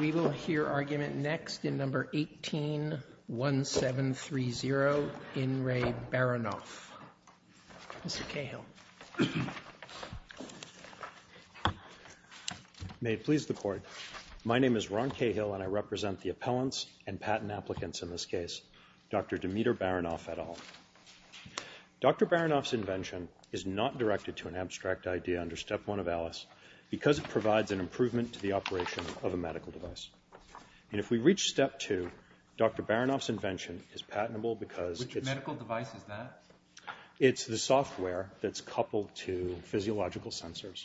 We will hear argument next in number 18-1730, In Re Baronov. Mr. Cahill. May it please the court. My name is Ron Cahill and I represent the appellants and patent applicants in this case. Dr. Demeter Baronov et al. Dr. Baronov's invention is not directed to an abstract idea under Step 1 of ALICE because it provides an improvement to the operation of a medical device. And if we reach Step 2, Dr. Baronov's invention is patentable because it's a medical device, is that? It's the software that's coupled to physiological sensors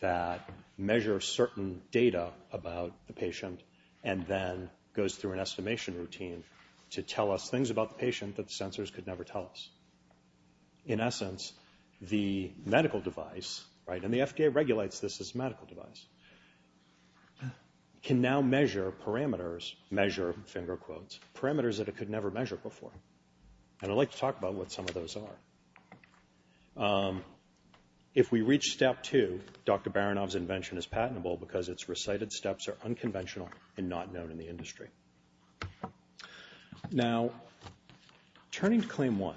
that measure certain data about the patient and then goes through an estimation routine to tell us things about the patient that the sensors could never tell us. In essence, the medical device, and the FDA regulates this as a medical device, can now measure parameters, measure, finger quotes, parameters that it could never measure before. And I'd like to talk about what some of those are. If we reach Step 2, Dr. Baronov's invention is patentable because its recited steps are unconventional and not known in the industry. Now, turning to Claim 1.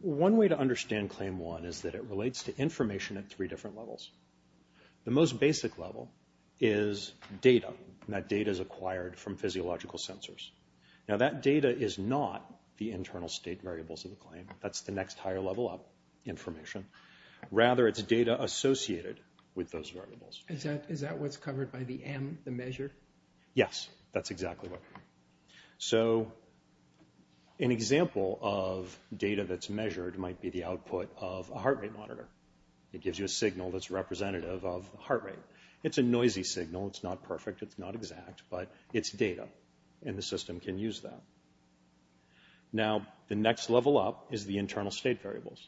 One way to understand Claim 1 is that it relates to information at three different levels. The most basic level is data, and that data is acquired from physiological sensors. Now, that data is not the internal state variables of the claim. That's the next higher level of information. Rather, it's data associated with those variables. Is that what's covered by the M, the measure? Yes, that's exactly right. So, an example of data that's measured might be the output of a heart rate monitor. It gives you a signal that's representative of heart rate. It's a noisy signal. It's not perfect. It's not exact. But it's data, and the system can use that. Now, the next level up is the internal state variables.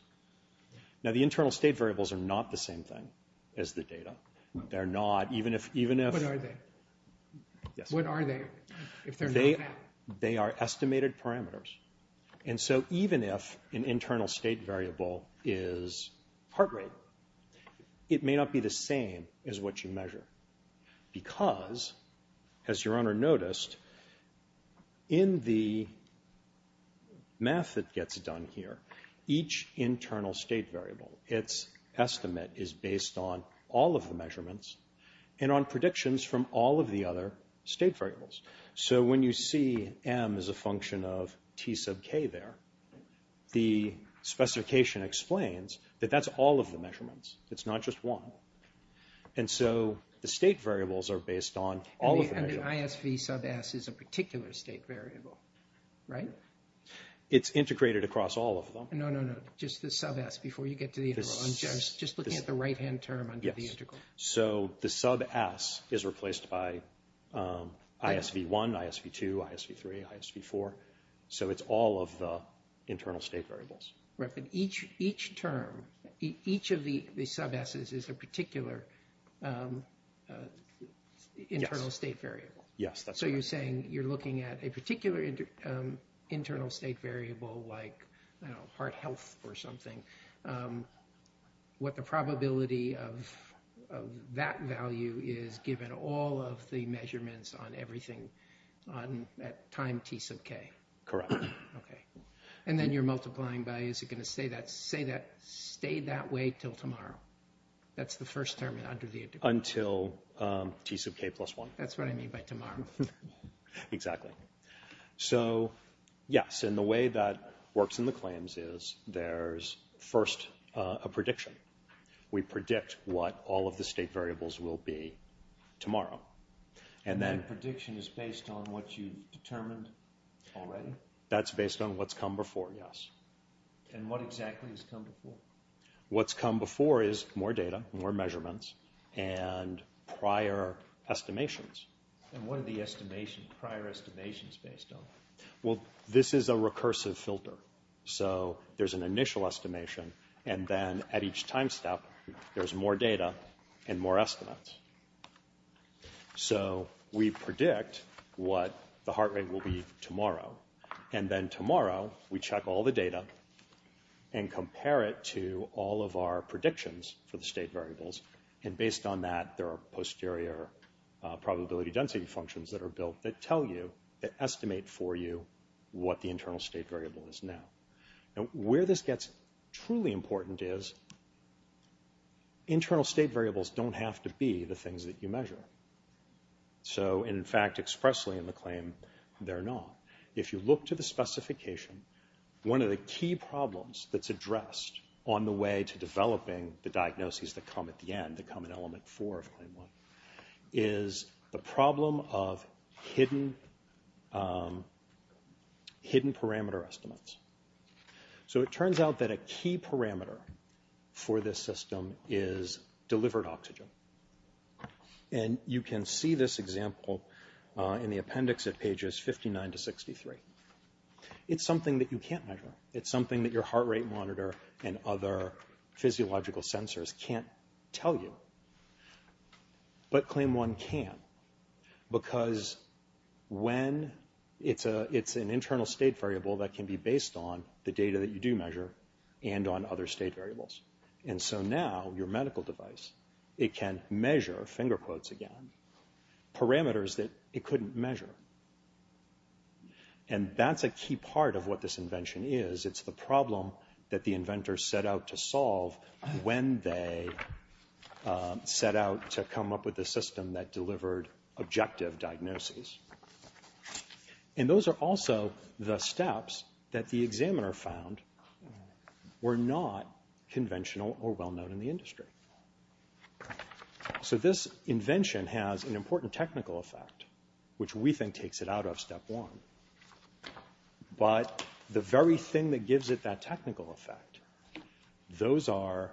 Now, the internal state variables are not the same thing as the data. They're not, even if... What are they? They are estimated parameters. And so, even if an internal state variable is heart rate, it may not be the same as what you measure. Because, as your owner noticed, in the math that gets done here, each internal state variable, its estimate is based on all of the measurements and on predictions from all of the other state variables. So, when you see M as a function of T sub K there, the specification explains that that's all of the measurements. It's not just one. And so, the state variables are based on all of the measurements. And the ISV sub S is a particular state variable, right? It's integrated across all of them. No, no, no. Just the sub S before you get to the integral. I'm just looking at the right-hand term under the integral. Yes. So, the sub S is replaced by ISV1, ISV2, ISV3, ISV4. So, it's all of the internal state variables. Right, but each term, each of the sub S's is a particular internal state variable. Yes, that's correct. So, you're saying you're looking at a particular internal state variable like heart health or something. What the probability of that value is given all of the measurements on everything at time T sub K. Correct. Okay. And then you're multiplying by, is it going to stay that way until tomorrow? That's the first term under the integral. Until T sub K plus one. That's what I mean by tomorrow. Exactly. So, yes. And the way that works in the claims is there's first a prediction. We predict what all of the state variables will be tomorrow. And that prediction is based on what you've determined already? That's based on what's come before, yes. And what exactly has come before? What's come before is more data, more measurements, and prior estimations. And what are the prior estimations based on? Well, this is a recursive filter. So, there's an initial estimation, and then at each time step, there's more data and more estimates. So, we predict what the heart rate will be tomorrow. And then tomorrow, we check all the data and compare it to all of our predictions for the state variables. And based on that, there are posterior probability density functions that are built that tell you, that estimate for you, what the internal state variable is now. And where this gets truly important is internal state variables don't have to be the things that you measure. So, in fact, expressly in the claim, they're not. If you look to the specification, one of the key problems that's addressed on the way to developing the diagnoses that come at the end, that come in element four of claim one, is the problem of hidden parameter estimates. So, it turns out that a key parameter for this system is delivered oxygen. And you can see this example in the appendix at pages 59 to 63. It's something that you can't measure. It's something that your heart rate monitor and other physiological sensors can't tell you. But claim one can, because when it's an internal state variable that can be based on the data that you do measure and on other state variables. And so now, your medical device, it can measure, finger quotes again, parameters that it couldn't measure. And that's a key part of what this invention is. It's the problem that the inventors set out to solve when they set out to come up with a system that delivered objective diagnoses. And those are also the steps that the examiner found were not conventional or well-known in the industry. So, this invention has an important technical effect, which we think takes it out of step one. But the very thing that gives it that technical effect, those are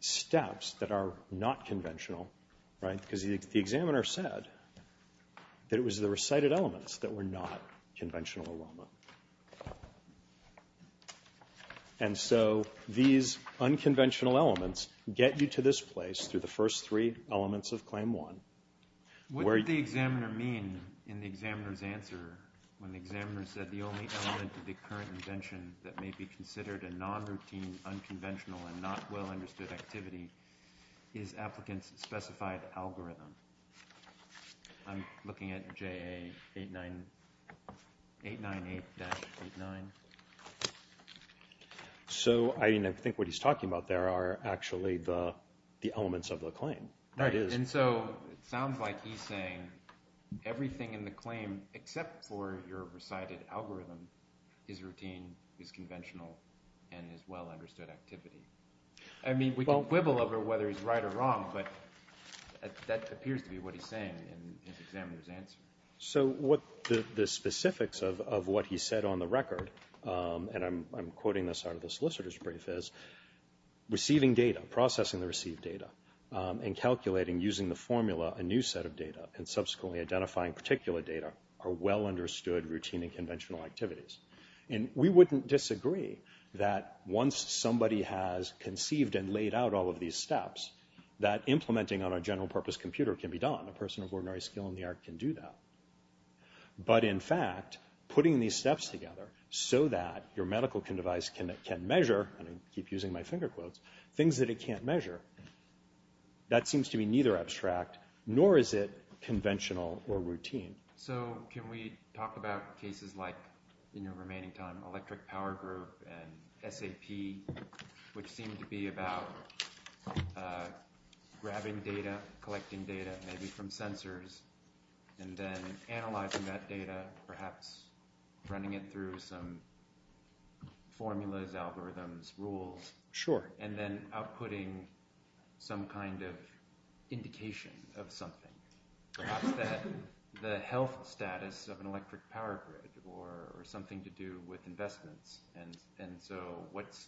steps that are not conventional, right? The examiner said that it was the recited elements that were not conventional or well-known. And so, these unconventional elements get you to this place through the first three elements of claim one. What did the examiner mean in the examiner's answer when the examiner said the only element of the current invention that may be considered a non-routine, unconventional, and not well-understood activity is applicant's specified algorithm? I'm looking at JA 898-89. So, I think what he's talking about there are actually the elements of the claim. And so, it sounds like he's saying everything in the claim except for your recited algorithm is routine, is conventional, and is well-understood activity. I mean, we can quibble over whether he's right or wrong, but that appears to be what he's saying in his examiner's answer. So, what the specifics of what he said on the record, and I'm quoting this out of the solicitor's brief, is receiving data, processing the received data, and calculating using the formula a new set of data, and subsequently identifying particular data are well-understood routine and conventional activities. And we wouldn't disagree that once somebody has conceived and laid out all of these steps, that implementing on a general-purpose computer can be done. A person of ordinary skill in the art can do that. But, in fact, putting these steps together so that your medical device can measure, and I keep using my finger quotes, things that it can't measure, that seems to be neither abstract nor is it conventional or routine. So, can we talk about cases like, in your remaining time, electric power group and SAP, which seem to be about grabbing data, collecting data, maybe from sensors, and then analyzing that data, perhaps running it through some formulas, algorithms, rules, and then outputting some kind of indication of something, perhaps that the health status of an electric power grid or something to do with investments. And so, what's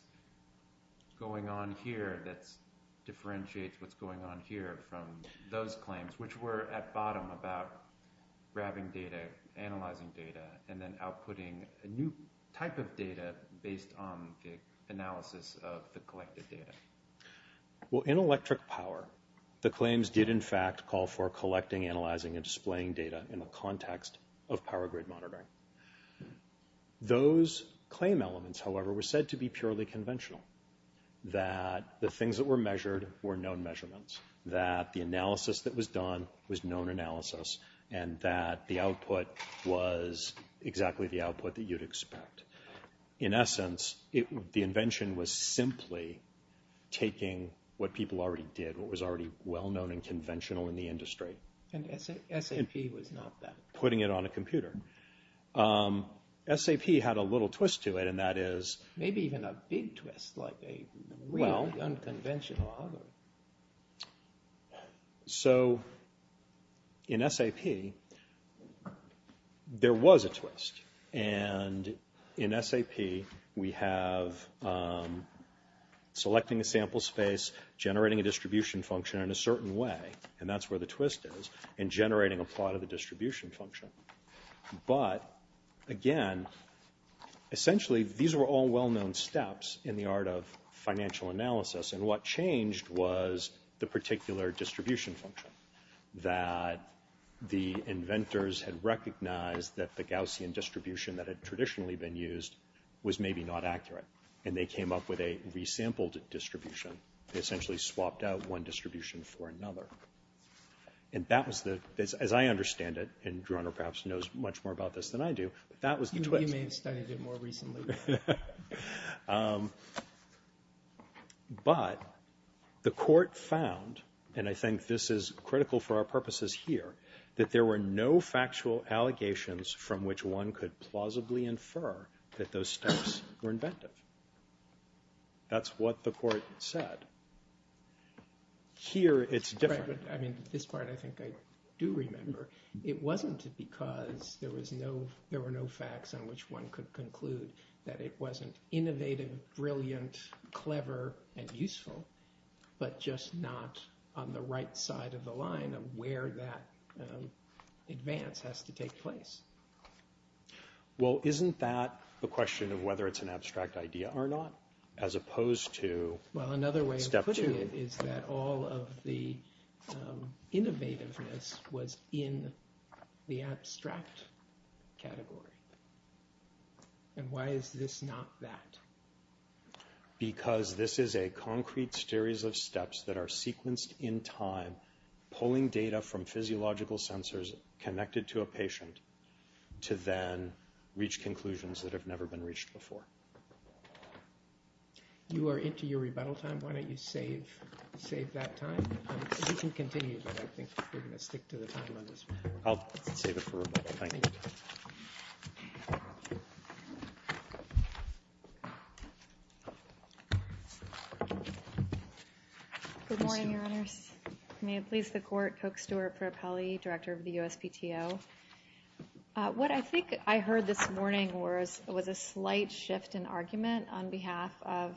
going on here that differentiates what's going on here from those claims, which were at bottom about grabbing data, analyzing data, and then outputting a new type of data based on the analysis of the collected data. Well, in electric power, the claims did, in fact, call for collecting, analyzing, and displaying data in the context of power grid monitoring. Those claim elements, however, were said to be purely conventional, that the things that were measured were known measurements, that the analysis that was done was known analysis, and that the output was exactly the output that you'd expect. In essence, the invention was simply taking what people already did, and putting it on a computer. SAP had a little twist to it, and that is... Maybe even a big twist, like a really unconventional algorithm. So, in SAP, there was a twist. And in SAP, we have selecting a sample space, generating a distribution function in a certain way, and that's where the twist is, and generating a part of the distribution function. But, again, essentially, these were all well-known steps in the art of financial analysis, and what changed was the particular distribution function, that the inventors had recognized that the Gaussian distribution that had traditionally been used was maybe not accurate, and they came up with a resampled distribution. They essentially swapped out one distribution for another. And that was the... As I understand it, and Geronimo perhaps knows much more about this than I do, that was the twist. You may have studied it more recently. But the court found, and I think this is critical for our purposes here, that there were no factual allegations from which one could plausibly infer that those steps were inventive. That's what the court said. Here, it's different. Right, but, I mean, this part I think I do remember. It wasn't because there were no facts on which one could conclude that it wasn't innovative, brilliant, clever, and useful, but just not on the right side of the line of where that advance has to take place. Well, isn't that a question of whether it's an abstract idea or not, as opposed to step two? Well, another way of putting it is that all of the innovativeness was in the abstract category. And why is this not that? Because this is a concrete series of steps that are sequenced in time, pulling data from physiological sensors connected to a patient to then reach conclusions that have never been reached before. You are into your rebuttal time. Why don't you save that time? You can continue, but I think we're going to stick to the time on this one. I'll save it for rebuttal. Thank you. Good morning, Your Honors. May it please the Court, Coke Stewart Propelli, Director of the USPTO. What I think I heard this morning was a slight shift in argument on behalf of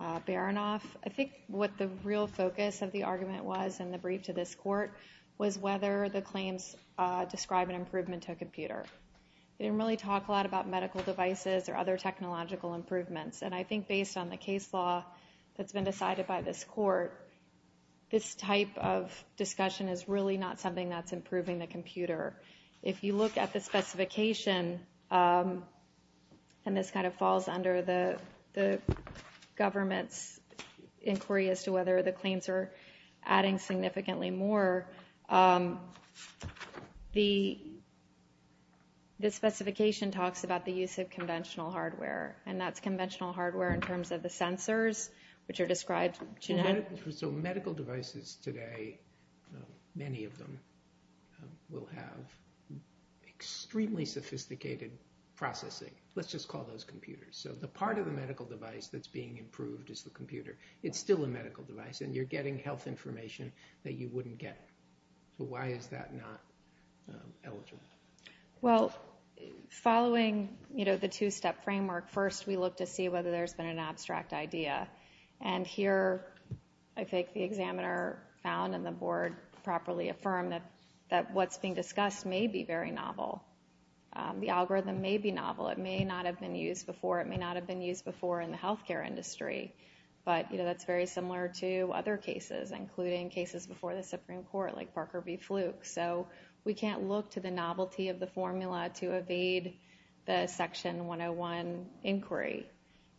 Baranoff. I think what the real focus of the argument was in the brief to this Court was whether the claims describe an improvement to a computer. They didn't really talk a lot about medical devices or other technological improvements, and I think based on the case law that's been decided by this Court, this type of discussion is really not something that's improving the computer. If you look at the specification, and this kind of falls under the government's inquiry as to whether the claims are adding significantly more, the specification talks about the use of conventional hardware, and that's conventional hardware in terms of the sensors, which are described. So medical devices today, many of them, will have extremely sophisticated processing. Let's just call those computers. So the part of the medical device that's being improved is the computer. It's still a medical device, and you're getting health information that you wouldn't get. So why is that not eligible? Well, following the two-step framework, first we look to see whether there's been an abstract idea, and here I think the examiner found and the Board properly affirmed that what's being discussed may be very novel. The algorithm may be novel. It may not have been used before. It may not have been used before in the health care industry, but that's very similar to other cases, including cases before the Supreme Court like Parker v. Fluke. So we can't look to the novelty of the formula to evade the Section 101 inquiry,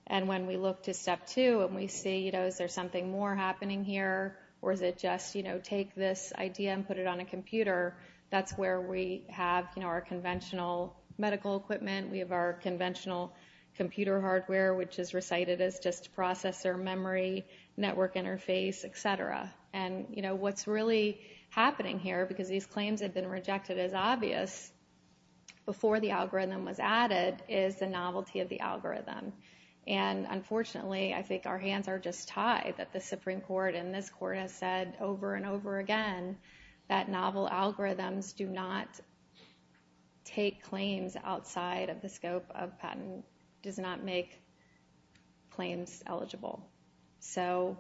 and when we look to Step 2 and we see, you know, is there something more happening here, or is it just, you know, take this idea and put it on a computer, that's where we have, you know, our conventional medical equipment. We have our conventional computer hardware, which is recited as just processor memory, network interface, et cetera, and, you know, what's really happening here, because these claims have been rejected as obvious, before the algorithm was added is the novelty of the algorithm, and unfortunately I think our hands are just tied that the Supreme Court and this Court have said over and over again that novel algorithms do not take claims outside of the scope of patent, does not make claims eligible. So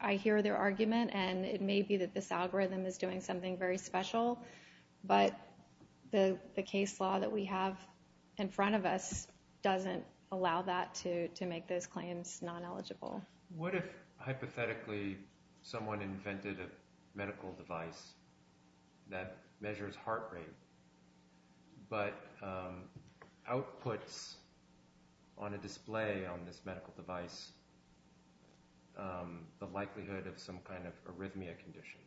I hear their argument, and it may be that this algorithm is doing something very special, but the case law that we have in front of us doesn't allow that to make those claims non-eligible. What if hypothetically someone invented a medical device that measures heart rate, but outputs on a display on this medical device the likelihood of some kind of arrhythmia condition?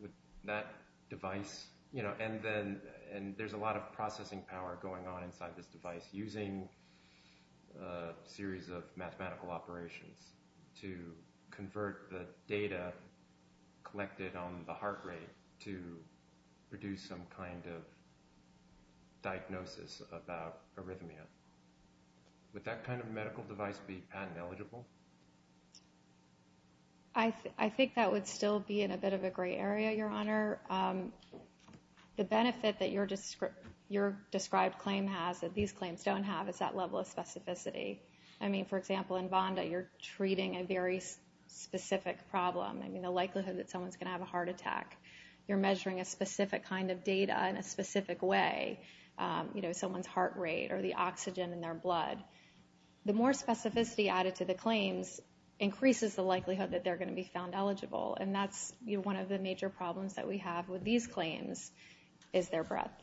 Would that device, you know, and there's a lot of processing power going on inside this device using a series of mathematical operations to convert the data collected on the heart rate to produce some kind of diagnosis about arrhythmia. Would that kind of medical device be patent eligible? I think that would still be in a bit of a gray area, Your Honor. The benefit that your described claim has that these claims don't have is that level of specificity. I mean, for example, in Vonda, you're treating a very specific problem. I mean, the likelihood that someone's going to have a heart attack. You're measuring a specific kind of data in a specific way. You know, someone's heart rate or the oxygen in their blood. The more specificity added to the claims increases the likelihood that they're going to be found eligible, and that's one of the major problems that we have with these claims is their breadth.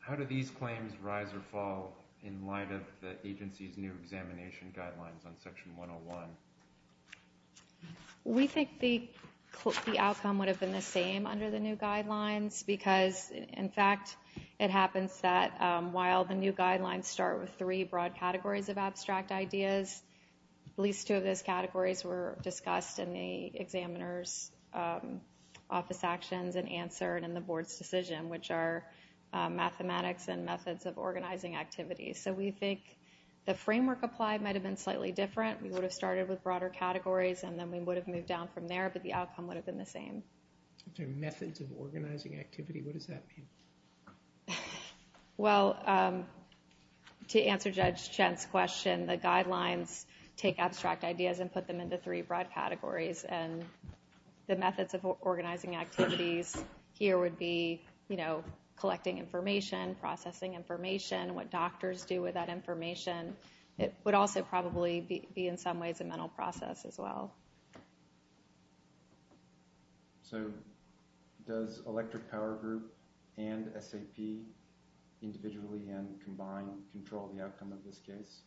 How do these claims rise or fall in light of the agency's new examination guidelines on Section 101? We think the outcome would have been the same under the new guidelines because, in fact, it happens that while the new guidelines start with three broad categories of abstract ideas, at least two of those categories were discussed in the examiner's office actions and answered in the board's decision, which are mathematics and methods of organizing activities. So we think the framework applied might have been slightly different. We would have started with broader categories, and then we would have moved down from there, but the outcome would have been the same. The methods of organizing activity, what does that mean? Well, to answer Judge Chant's question, the guidelines take abstract ideas and put them into three broad categories, and the methods of organizing activities here would be, you know, collecting information, processing information, what doctors do with that information. It would also probably be, in some ways, a mental process as well. So does Electric Power Group and SAP individually and combined control the outcome of this case?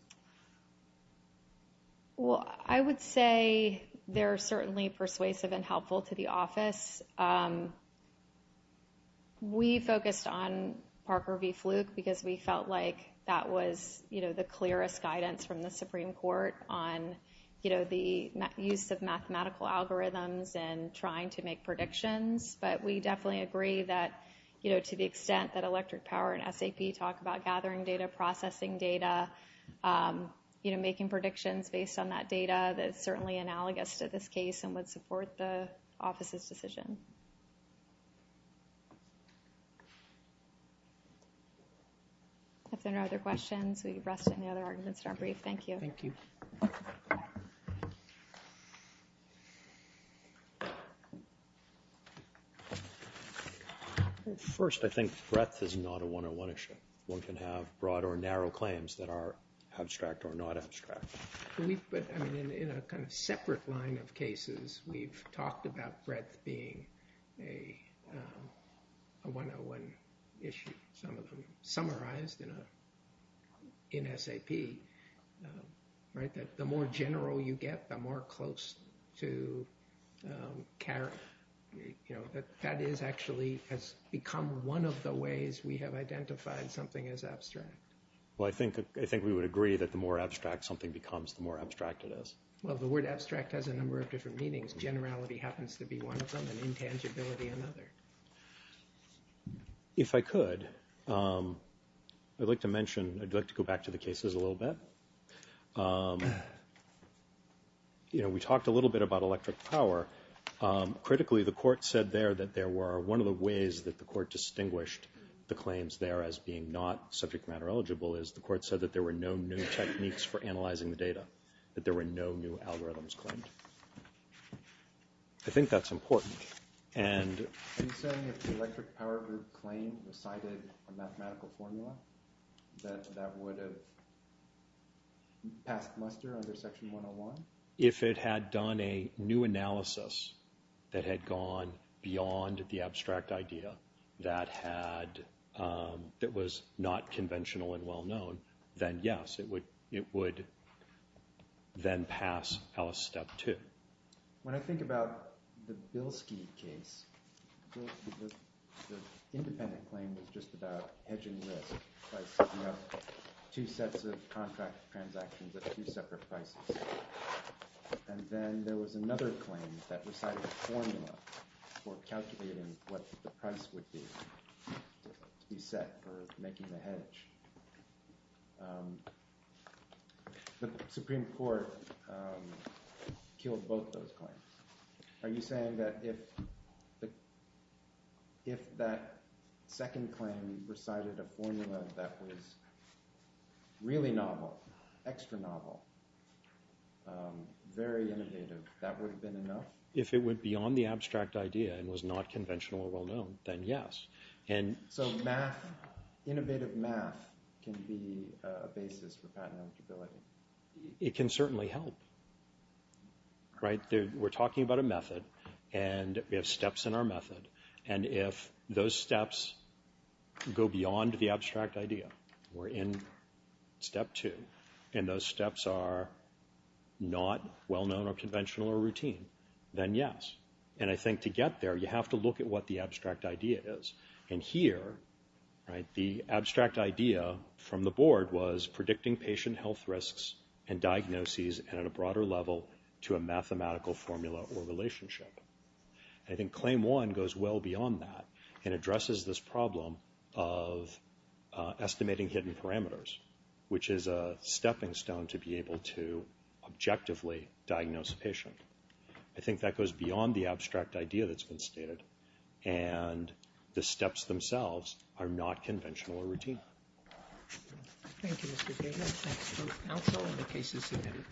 Well, I would say they're certainly persuasive and helpful to the office. We focused on Parker v. Fluke because we felt like that was, you know, the use of mathematical algorithms and trying to make predictions, but we definitely agree that, you know, to the extent that Electric Power and SAP talk about gathering data, processing data, you know, making predictions based on that data, that's certainly analogous to this case and would support the office's decision. If there are no other questions, we rest any other arguments in our brief. Thank you. Thank you. First, I think breadth is not a 101 issue. One can have broad or narrow claims that are abstract or not abstract. But, I mean, in a kind of separate line of cases, we've talked about breadth being a 101 issue, some of them summarized in SAP, right? That the more general you get, the more close to, you know, that that is actually has become one of the ways we have identified something as abstract. Well, I think we would agree that the more abstract something becomes, the more abstract it is. Well, the word abstract has a number of different meanings. Generality happens to be one of them and intangibility another. If I could, I'd like to mention, I'd like to go back to the cases a little bit. You know, we talked a little bit about electric power. Critically, the court said there that there were, one of the ways that the court distinguished the claims there as being not subject matter eligible is the court said that there were no new techniques for analyzing the data, that there were no new algorithms claimed. I think that's important. Are you saying that the electric power group claim recited a mathematical formula that would have passed muster under Section 101? If it had done a new analysis that had gone beyond the abstract idea that had, that was not conventional and well-known, then yes, it would then pass Alice Step 2. When I think about the Bilski case, the independent claim was just about hedging risk. You have two sets of contract transactions at two separate prices. And then there was another claim that recited a formula for calculating what the price would be The Supreme Court killed both those claims. Are you saying that if that second claim recited a formula that was really novel, extra novel, very innovative, that would have been enough? If it went beyond the abstract idea and was not conventional or well-known, then yes. So innovative math can be a basis for patent eligibility? It can certainly help. We're talking about a method, and we have steps in our method. And if those steps go beyond the abstract idea, we're in Step 2, and those steps are not well-known or conventional or routine, then yes. And I think to get there, you have to look at what the abstract idea is. And here, the abstract idea from the board was predicting patient health risks and diagnoses at a broader level to a mathematical formula or relationship. And I think Claim 1 goes well beyond that and addresses this problem of estimating hidden parameters, which is a stepping stone to be able to objectively diagnose a patient. I think that goes beyond the abstract idea that's been stated, and the steps themselves are not conventional or routine. Thank you, Mr. Davis. That's both counsel and the cases submitted.